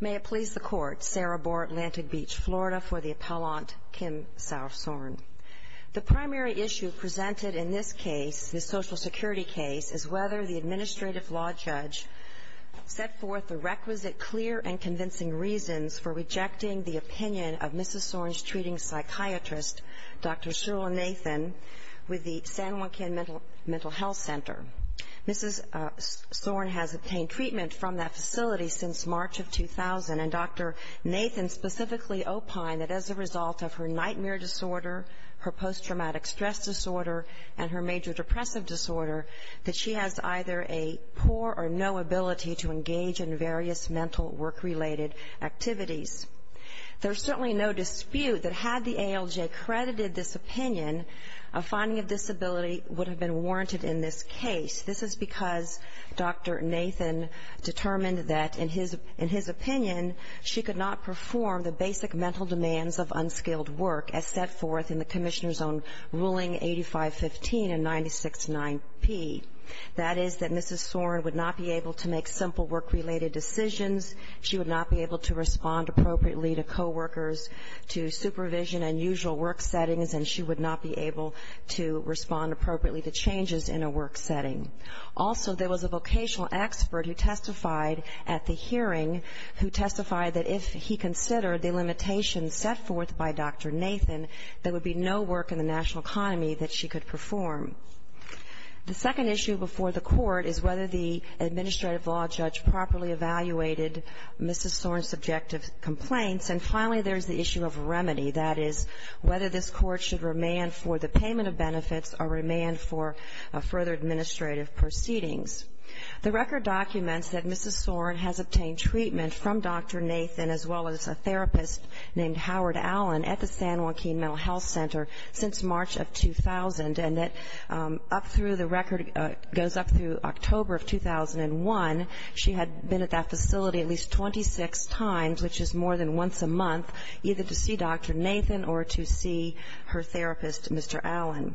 May it please the Court, Sarah Boer, Atlantic Beach, Florida, for the appellant, Kim Saur-Sorn. The primary issue presented in this case, this Social Security case, is whether the administrative law judge set forth the requisite clear and convincing reasons for rejecting the opinion of Mrs. Sorn's treating psychiatrist, Dr. Sheryl Nathan, with the San Joaquin Mental Health Center. Mrs. Sorn has obtained treatment from that facility since March of 2000, and Dr. Nathan specifically opined that as a result of her nightmare disorder, her post-traumatic stress disorder, and her major depressive disorder, that she has either a poor or no ability to engage in various mental work-related activities. There is certainly no dispute that had the ALJ credited this opinion, a finding of disability would have been warranted in this case. This is because Dr. Nathan determined that, in his opinion, she could not perform the basic mental demands of unskilled work as set forth in the Commissioner's Own Ruling 8515 and 969P. That is that Mrs. Sorn would not be able to make simple work-related decisions, she would not be able to respond appropriately to coworkers, to supervision and usual work settings, and she would not be able to respond appropriately to changes in a work setting. Also, there was a vocational expert who testified at the hearing who testified that if he considered the limitations set forth by Dr. Nathan, there would be no work in the national economy that she could perform. The second issue before the Court is whether the administrative law judge properly evaluated Mrs. Sorn's subjective complaints. And finally, there is the issue of remedy. That is whether this Court should remand for the payment of benefits or remand for further administrative proceedings. The record documents that Mrs. Sorn has obtained treatment from Dr. Nathan as well as a therapist named Howard Allen at the San Joaquin Mental Health Center since March of 2000, and that up through the record goes up through October of 2001, she had been at that facility at least 26 times, which is more than once a month, either to see Dr. Nathan or to see her therapist, Mr. Allen.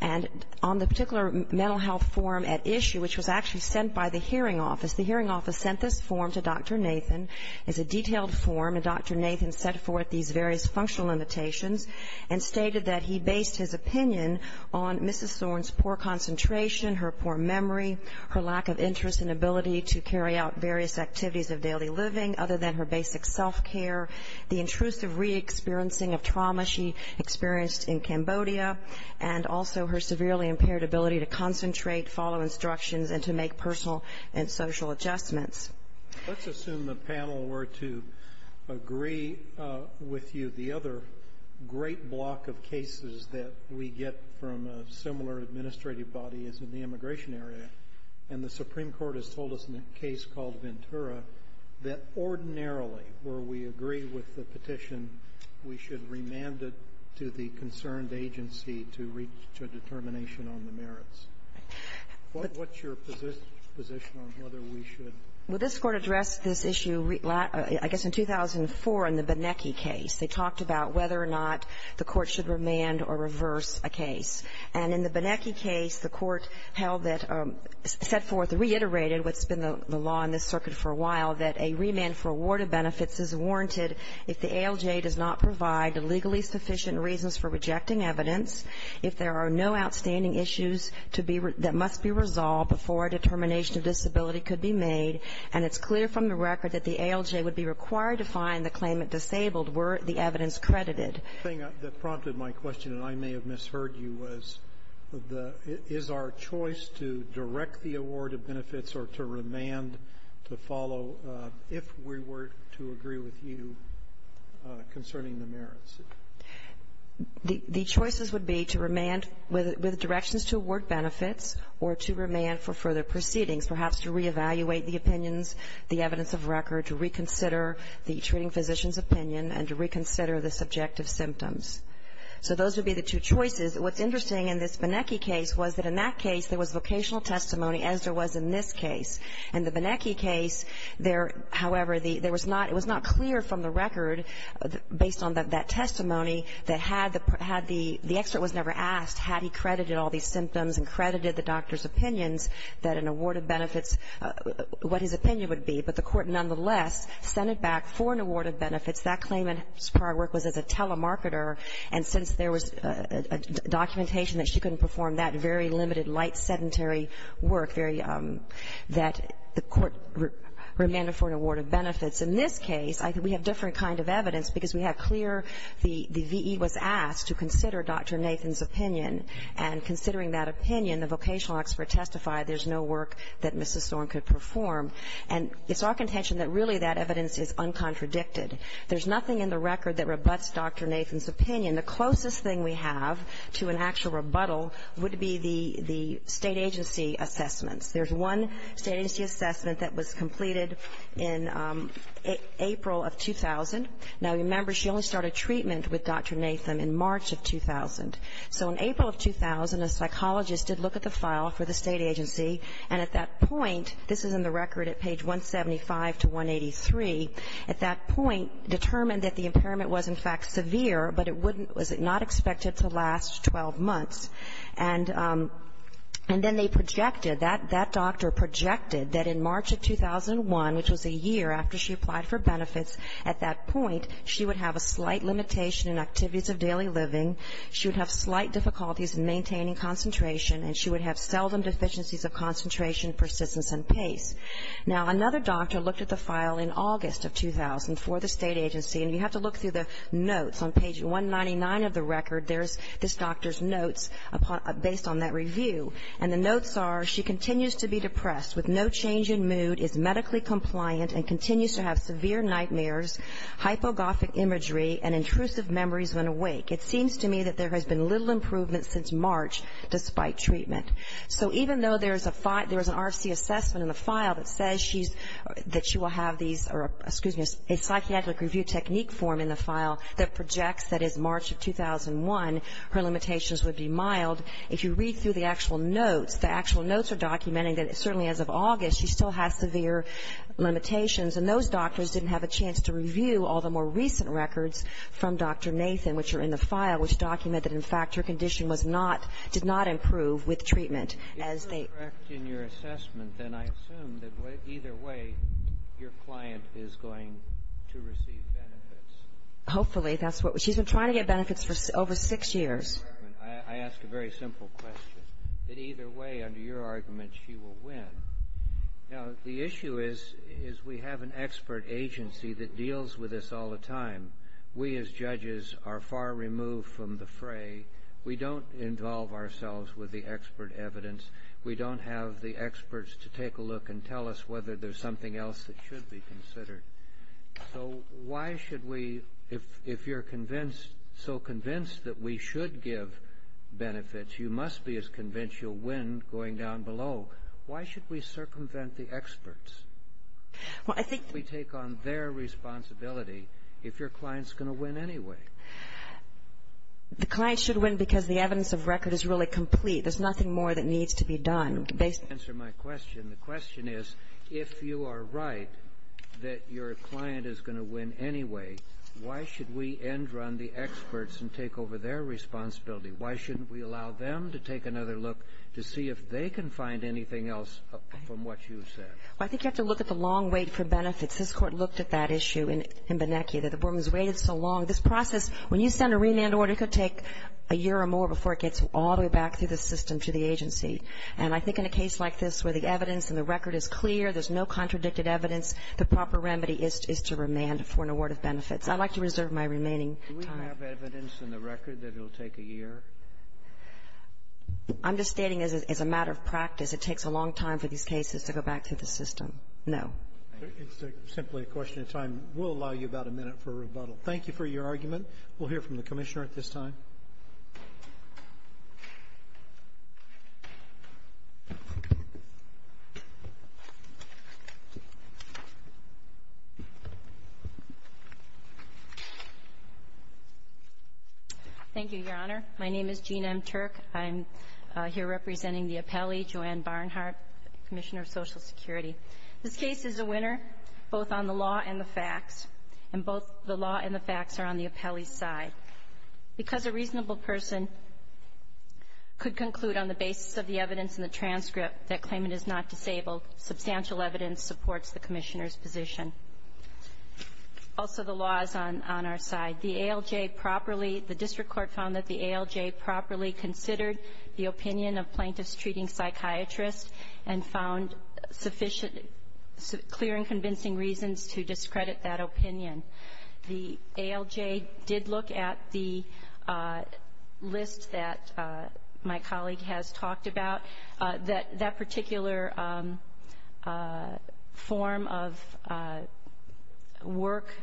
And on the particular mental health form at issue, which was actually sent by the hearing office, the hearing office sent this form to Dr. Nathan. It's a detailed form, and Dr. Nathan set forth these various functional limitations and stated that he based his opinion on Mrs. Sorn's poor concentration, her poor memory, her lack of interest and ability to carry out various activities of daily living other than her basic self-care, the intrusive re-experiencing of trauma she experienced in Cambodia, and also her severely impaired ability to concentrate, follow instructions, and to make personal and social adjustments. Let's assume the panel were to agree with you. The other great block of cases that we get from a similar administrative body is in the immigration area. And the Supreme Court has told us in a case called Ventura that ordinarily where we agree with the petition, we should remand it to the concerned agency to reach a determination on the merits. What's your position on whether we should? Well, this Court addressed this issue, I guess, in 2004 in the Benecki case. They talked about whether or not the Court should remand or reverse a case. And in the Benecki case, the Court held that or set forth or reiterated what's been the law in this circuit for a while, that a remand for award of benefits is warranted if the ALJ does not provide legally sufficient reasons for rejecting evidence, if there are no outstanding issues that must be resolved before a determination of disability could be made. And it's clear from the record that the ALJ would be required to find the claimant disabled were the evidence credited. The thing that prompted my question, and I may have misheard you, was is our choice to direct the award of benefits or to remand to follow if we were to agree with you concerning the merits? The choices would be to remand with directions to award benefits or to remand for further proceedings, perhaps to reevaluate the opinions, the evidence of record, to reconsider the treating physician's opinion, and to reconsider the subjective symptoms. So those would be the two choices. What's interesting in this Benecki case was that in that case, there was vocational testimony, as there was in this case. In the Benecki case, however, it was not clear from the record, based on that testimony, that had the expert was never asked had he credited all these symptoms and credited the doctor's opinions that an award of benefits, what his opinion would be, but the court nonetheless sent it back for an award of benefits. That claimant's prior work was as a telemarketer, and since there was documentation that she couldn't perform that very limited, light, sedentary work, that the court remanded for an award of benefits. In this case, we have different kind of evidence because we have clear the V.E. was asked to consider Dr. Nathan's opinion, and considering that opinion, the vocational expert testified there's no work that Mrs. Thorne could perform. And it's our contention that really that evidence is uncontradicted. There's nothing in the record that rebutts Dr. Nathan's opinion. The closest thing we have to an actual rebuttal would be the State agency assessments. There's one State agency assessment that was completed in April of 2000. Now, remember, she only started treatment with Dr. Nathan in March of 2000. So in April of 2000, a psychologist did look at the file for the State agency, and at that point, this is in the record at page 175 to 183, at that point determined that the impairment was, in fact, severe, but it wouldn't was not expected to last 12 months. And then they projected, that doctor projected that in March of 2001, which was a year after she applied for benefits at that point, she would have a slight limitation in activities of daily living. She would have slight difficulties in maintaining concentration, and she would have seldom deficiencies of concentration, persistence, and pace. Now, another doctor looked at the file in August of 2000 for the State agency, and you have to look through the notes. On page 199 of the record, there's this doctor's notes based on that review. And the notes are, she continues to be depressed, with no change in mood, is medically compliant, and continues to have severe nightmares, hypogothic imagery, and intrusive memories when awake. It seems to me that there has been little improvement since March, despite treatment. So even though there is an RFC assessment in the file that says she's, that she will have these, or, excuse me, a psychiatric review technique form in the file that projects that is March of 2001, her limitations would be mild. If you read through the actual notes, the actual notes are documenting that, certainly as of August, she still has severe limitations. And those doctors didn't have a chance to review all the more recent records from Dr. Nathan, which are in the file, which document that, in fact, her condition was not, did not improve with treatment. If you're correct in your assessment, then I assume that either way, your client is going to receive benefits. Hopefully. She's been trying to get benefits for over six years. I ask a very simple question, that either way, under your argument, she will win. Now, the issue is, is we have an expert agency that deals with this all the time. We don't involve ourselves with the expert evidence. We don't have the experts to take a look and tell us whether there's something else that should be considered. So why should we, if you're convinced, so convinced that we should give benefits, you must be as convinced you'll win going down below. Why should we circumvent the experts? Why should we take on their responsibility if your client's going to win anyway? The client should win because the evidence of record is really complete. There's nothing more that needs to be done. Based on your answer to my question, the question is, if you are right that your client is going to win anyway, why should we end around the experts and take over their responsibility? Why shouldn't we allow them to take another look to see if they can find anything else from what you've said? Well, I think you have to look at the long wait for benefits. This Court looked at that issue in Bonnecchia, that the woman's waited so long. This process, when you send a remand order, it could take a year or more before it gets all the way back through the system to the agency. And I think in a case like this where the evidence and the record is clear, there's no contradicted evidence, the proper remedy is to remand for an award of benefits. I'd like to reserve my remaining time. Do we have evidence in the record that it will take a year? I'm just stating as a matter of practice, it takes a long time for these cases to go back through the system. No. It's simply a question of time. We'll allow you about a minute for rebuttal. Thank you for your argument. We'll hear from the Commissioner at this time. Thank you, Your Honor. My name is Jean M. Turk. I'm here representing the appellee, Joanne Barnhart, Commissioner of Social Security. This case is a winner, both on the law and the facts, and both the law and the facts are on the appellee's side. Because a reasonable person could conclude on the basis of the evidence in the transcript that claimant is not disabled, substantial evidence supports the Commissioner's position. Also, the law is on our side. The ALJ properly — the district court found that the ALJ properly considered the opinion of plaintiffs treating psychiatrists and found sufficient clear and convincing reasons to discredit that opinion. The ALJ did look at the list that my colleague has talked about. That particular form of work,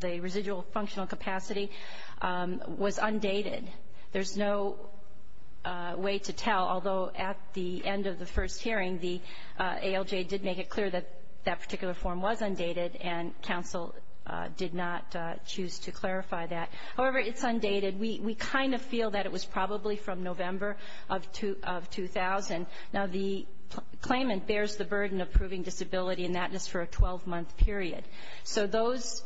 the residual functional capacity, was undated. There's no way to tell, although at the end of the first hearing, the ALJ did make it clear that that particular form was undated, and counsel did not choose to clarify that. However, it's undated. We kind of feel that it was probably from November of 2000. Now, the claimant bears the burden of proving disability and thatness for a 12-month period. So those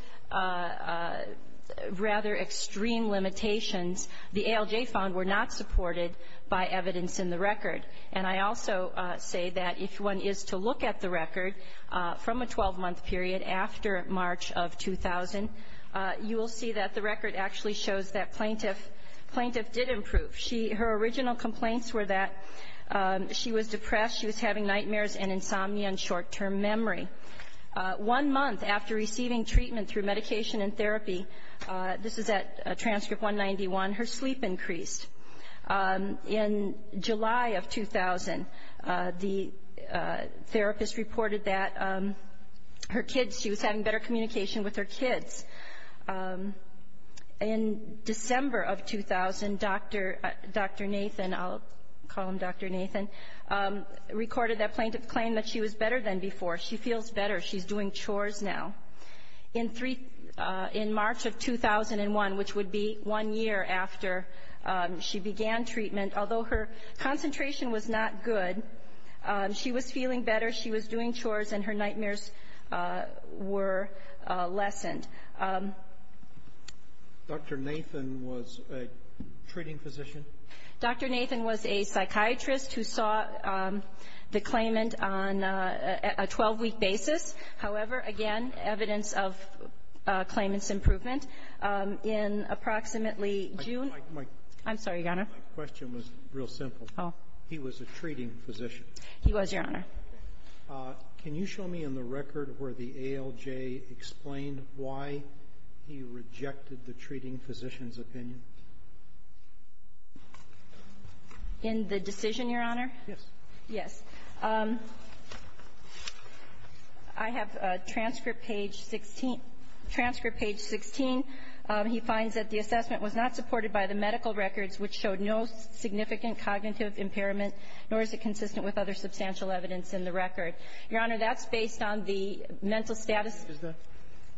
rather extreme limitations, the ALJ found, were not supported by evidence in the record. And I also say that if one is to look at the record from a 12-month period after March of 2000, you will see that the record actually shows that plaintiff did improve. Her original complaints were that she was depressed, she was having nightmares and insomnia and short-term memory. One month after receiving treatment through medication and therapy, this is at transcript 191, her sleep increased. In July of 2000, the therapist reported that her kids, she was having better communication with her kids. In December of 2000, Dr. Nathan, I'll call him Dr. Nathan, recorded that plaintiff claimed that she was better than before. She feels better. She's doing chores now. In March of 2001, which would be one year after she began treatment, although her concentration was not good, she was feeling better, she was doing chores, and her nightmares were lessened. Dr. Nathan was a treating physician? Dr. Nathan was a psychiatrist who saw the claimant on a 12-week basis. However, again, evidence of claimant's improvement in approximately June of 2001. I'm sorry, Your Honor. My question was real simple. Oh. He was a treating physician. He was, Your Honor. Can you show me in the record where the ALJ explained why he rejected the treating physician's opinion? In the decision, Your Honor? Yes. Yes. I have a transcript page 16. He finds that the assessment was not supported by the medical records, which showed no significant cognitive impairment, nor is it consistent with other substantial evidence in the record. Your Honor, that's based on the mental status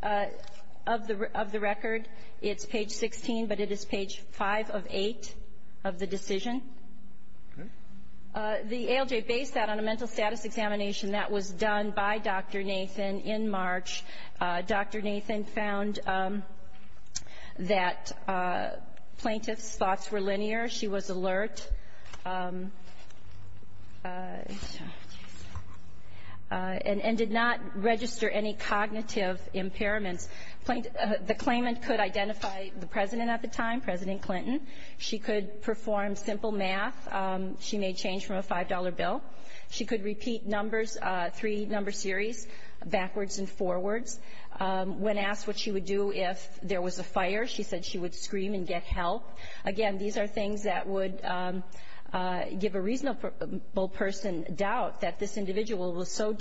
of the record. It's page 16, but it is page 5 of 8 of the decision. Okay. The ALJ based that on a mental status examination that was done by Dr. Nathan in March. Dr. Nathan found that plaintiff's thoughts were linear. She was alert and did not register any cognitive impairments. The claimant could identify the president at the time, President Clinton. She could perform simple math. She made change from a $5 bill. She could repeat numbers, three-number series, backwards and forwards. When asked what she would do if there was a fire, she said she would scream and get help. Again, these are things that would give a reasonable person doubt that this individual was so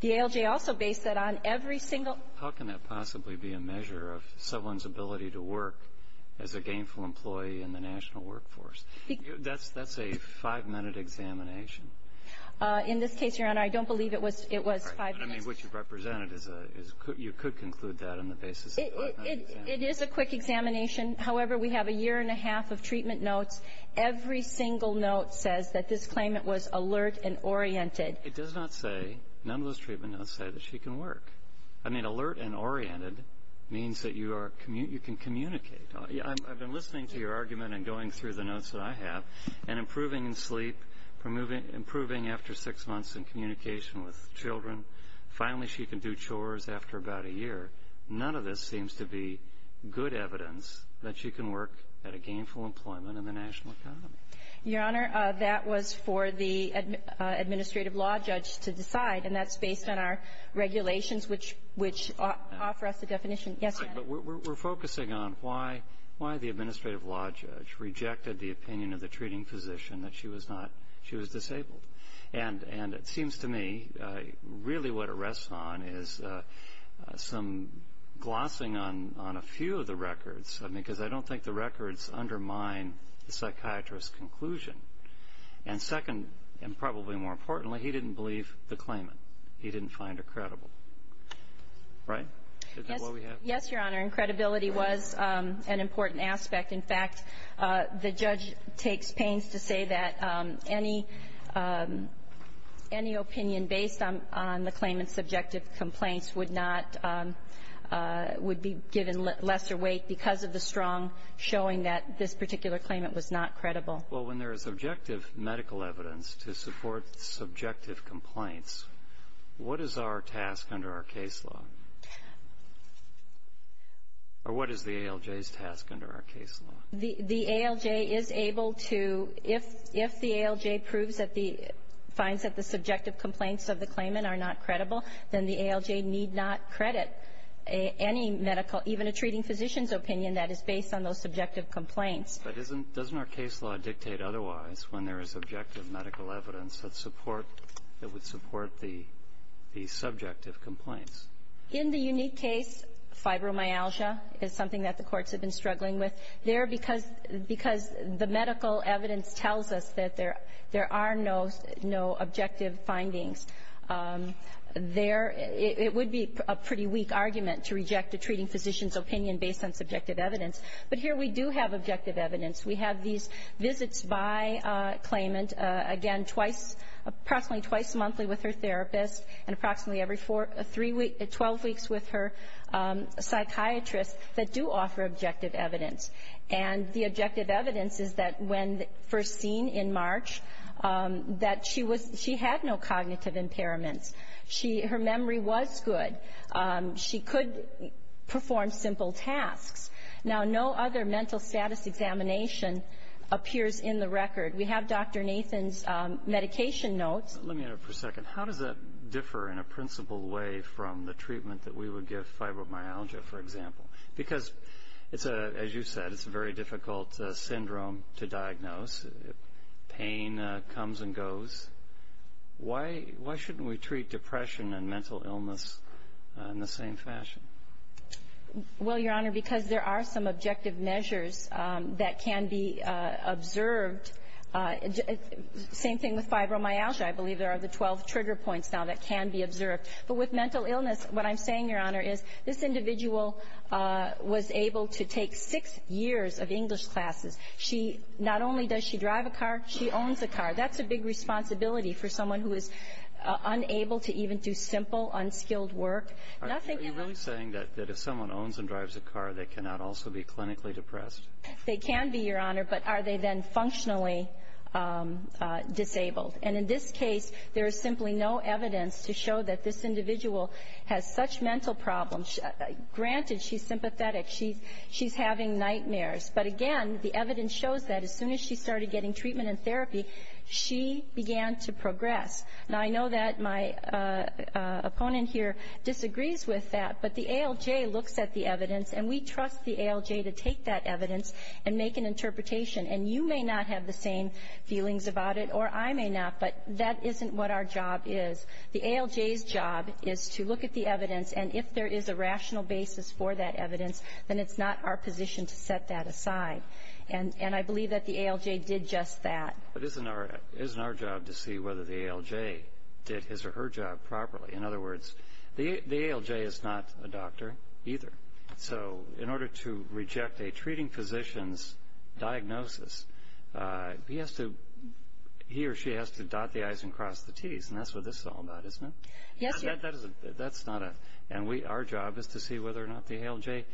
The ALJ also based that on every single How can that possibly be a measure of someone's ability to work as a gainful employee in the national workforce? That's a five-minute examination. In this case, Your Honor, I don't believe it was five minutes. I mean, what you've represented is a you could conclude that on the basis of a five-minute It is a quick examination. However, we have a year and a half of treatment notes. Every single note says that this claimant was alert and oriented. It does not say, none of those treatment notes say that she can work. I mean, alert and oriented means that you can communicate. I've been listening to your argument and going through the notes that I have, and improving in sleep, improving after six months in communication with children. Finally, she can do chores after about a year. None of this seems to be good evidence that she can work at a gainful employment in the national economy. Your Honor, that was for the administrative law judge to decide, and that's based on our regulations, which offer us the definition. Yes, Your Honor. Right, but we're focusing on why the administrative law judge rejected the opinion of the treating physician that she was disabled. And it seems to me really what it rests on is some glossing on a few of the records, because I don't think the records undermine the psychiatrist's conclusion. And second, and probably more importantly, he didn't believe the claimant. He didn't find her credible. Right? Yes, Your Honor, and credibility was an important aspect. In fact, the judge takes pains to say that any opinion based on the claimant's subjective complaints would not be given lesser weight because of the strong showing that this particular claimant was not credible. Well, when there is objective medical evidence to support subjective complaints, what is our task under our case law? Or what is the ALJ's task under our case law? The ALJ is able to, if the ALJ proves that the – finds that the subjective complaints of the claimant are not credible, then the ALJ need not credit any medical – even a treating physician's opinion that is based on those subjective complaints. But isn't – doesn't our case law dictate otherwise when there is objective medical evidence that support – that would support the subjective complaints? In the unique case, fibromyalgia is something that the courts have been struggling with there because – because the medical evidence tells us that there are no objective findings. There – it would be a pretty weak argument to reject a treating physician's opinion based on subjective evidence. But here we do have objective evidence. We have these visits by claimant, again, twice – approximately twice monthly with her therapist and approximately every four – three week – 12 weeks with her psychiatrist that do offer objective evidence. And the objective evidence is that when first seen in March, that she was – she had no cognitive impairments. She – her memory was good. She could perform simple tasks. Now, no other mental status examination appears in the record. We have Dr. Nathan's medication notes. Let me interrupt for a second. How does that differ in a principled way from the treatment that we would give fibromyalgia, for example? Because it's a – as you said, it's a very difficult syndrome to diagnose. Pain comes and goes. Why – why shouldn't we treat depression and mental illness in the same fashion? Well, Your Honor, because there are some objective measures that can be observed. Same thing with fibromyalgia. I believe there are the 12 trigger points now that can be observed. But with mental illness, what I'm saying, Your Honor, is this individual was able to take six years of English classes. She – not only does she drive a car, she owns a car. That's a big responsibility for someone who is unable to even do simple, unskilled work. Are you really saying that if someone owns and drives a car, they cannot also be clinically depressed? They can be, Your Honor. But are they then functionally disabled? And in this case, there is simply no evidence to show that this individual has such mental problems. Granted, she's sympathetic. She's having nightmares. But again, the evidence shows that as soon as she started getting treatment and therapy, she began to progress. Now, I know that my opponent here disagrees with that. But the ALJ looks at the evidence. And we trust the ALJ to take that evidence and make an interpretation. And you may not have the same feelings about it, or I may not. But that isn't what our job is. The ALJ's job is to look at the evidence. And if there is a rational basis for that evidence, then it's not our position to set that aside. And I believe that the ALJ did just that. But isn't our job to see whether the ALJ did his or her job properly? In other words, the ALJ is not a doctor either. So in order to reject a treating physician's diagnosis, he or she has to dot the I's and cross the T's. And that's what this is all about, isn't it? Yes, Your Honor. And our job is to see whether or not the ALJ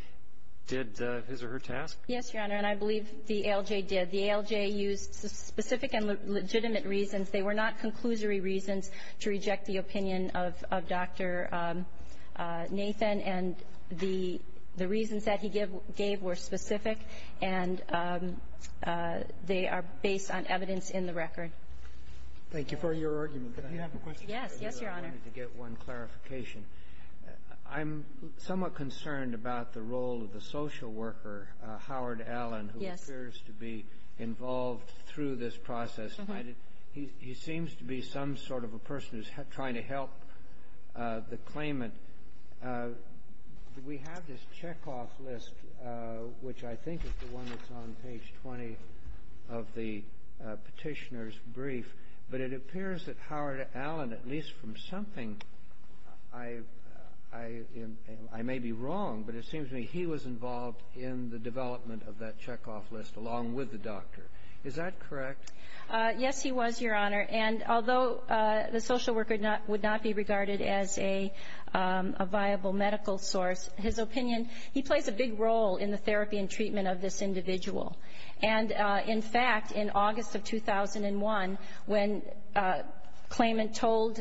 did his or her task? Yes, Your Honor. And I believe the ALJ did. The ALJ used specific and legitimate reasons. They were not conclusory reasons to reject the opinion of Dr. Nathan. And the reasons that he gave were specific. And they are based on evidence in the record. Thank you for your argument. Could I have a question? Yes. Yes, Your Honor. I wanted to get one clarification. I'm somewhat concerned about the role of the social worker, Howard Allen, who appears to be involved through this process. He seems to be some sort of a person who's trying to help the claimant. We have this checkoff list, which I think is the one that's on page 20 of the petitioner's brief. But it appears that Howard Allen, at least from something, I may be wrong, but it seems to me he was involved in the development of that checkoff list along with the doctor. Is that correct? Yes, he was, Your Honor. And although the social worker would not be regarded as a viable medical source, his opinion, he plays a big role in the therapy and treatment of this individual. And, in fact, in August of 2001, when claimant told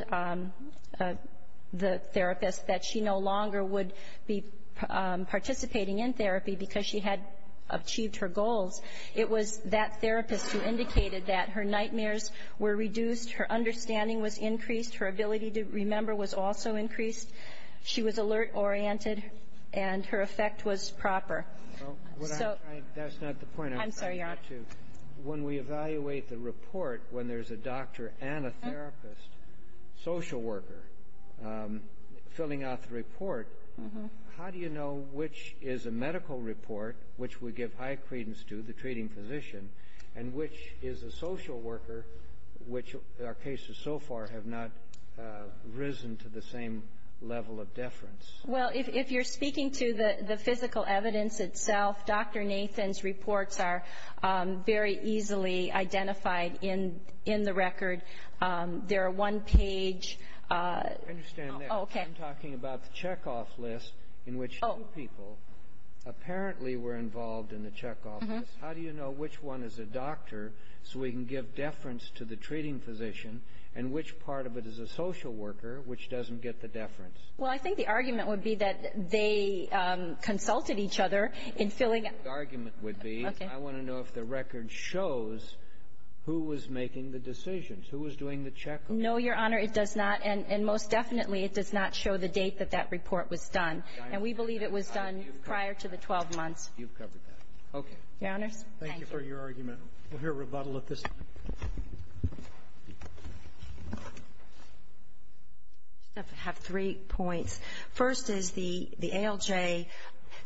the therapist that she no longer would be participating in therapy because she had achieved her goals, it was that therapist who indicated that her nightmares were reduced, her understanding was increased, her ability to remember was also increased, she was alert-oriented, and her effect was proper. So that's not the point. I'm sorry, Your Honor. When we evaluate the report, when there's a doctor and a therapist, social worker, filling out the report, how do you know which is a medical report, which we give high credence to, the treating physician, and which is a social worker, which our cases so far have not risen to the same level of deference? Well, if you're speaking to the physical evidence itself, Dr. Nathan's reports are very easily identified in the record. They're a one-page... I understand that. Oh, okay. I'm talking about the check-off list in which two people apparently were involved in the check-off list. How do you know which one is a doctor so we can give deference to the treating physician and which part of it is a social worker, which doesn't get the deference? Well, I think the argument would be that they consulted each other in filling out... The argument would be... Okay. ...who was making the decisions, who was doing the check-off. No, Your Honor, it does not. And most definitely, it does not show the date that that report was done. And we believe it was done prior to the 12 months. You've covered that. Okay. Your Honors. Thank you. Thank you for your argument. We'll hear rebuttal at this time. I have three points. First is the ALJ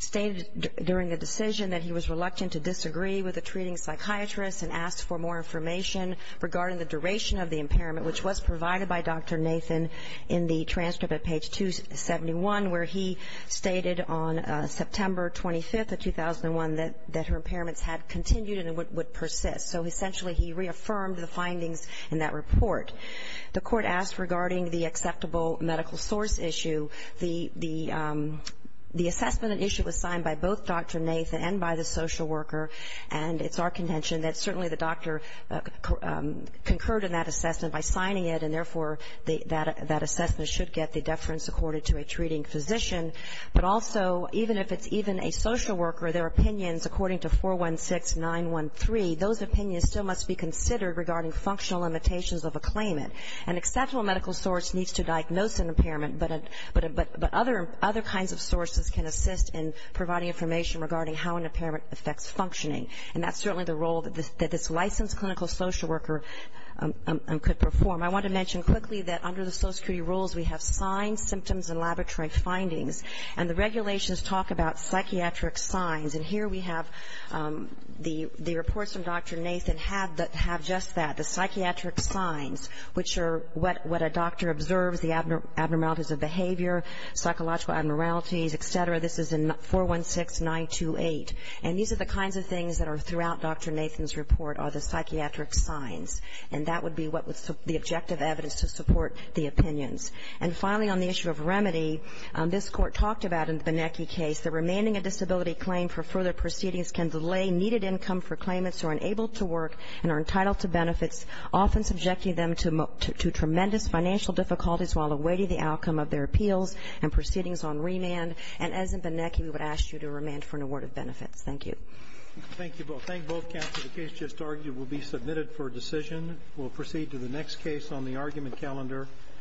stated during the decision that he was reluctant to disagree with a treating psychiatrist and asked for more information regarding the duration of the impairment, which was provided by Dr. Nathan in the transcript at page 271, where he stated on September 25th of 2001 that her impairments had continued and would persist. So essentially, he reaffirmed the findings in that report. The court asked regarding the acceptable medical source issue. The assessment and issue was signed by both Dr. Nathan and by the social worker, and it's our contention that certainly the doctor concurred in that assessment by signing it, and therefore, that assessment should get the deference according to a treating physician. But also, even if it's even a social worker, their opinions, according to 416913, those opinions still must be considered regarding functional limitations of a claimant. An acceptable medical source needs to diagnose an impairment, but other kinds of sources can assist in providing information regarding how an impairment affects functioning, and that's certainly the role that this licensed clinical social worker could perform. I want to mention quickly that under the Social Security rules, we have signs, symptoms, and laboratory findings, and the regulations talk about psychiatric signs. And here we have the reports from Dr. Nathan have just that, the psychiatric signs, which are what a doctor observes, the abnormalities of behavior, psychological abnormalities, et cetera. This is in 416928. And these are the kinds of things that are throughout Dr. Nathan's report are the psychiatric signs, and that would be what was the objective evidence to support the opinions. And finally, on the issue of remedy, this court talked about in the Binecki case, the remaining a disability claim for further proceedings can delay needed income for claimants who are unable to work and are entitled to benefits, often subjecting them to tremendous financial difficulties while awaiting the outcome of their appeals and proceedings on remand. And as in Binecki, we would ask you to remand for an award of benefits. Thank you. Thank you both. Thank both counsel. The case just argued will be submitted for decision. We'll proceed to the next case on the argument calendar.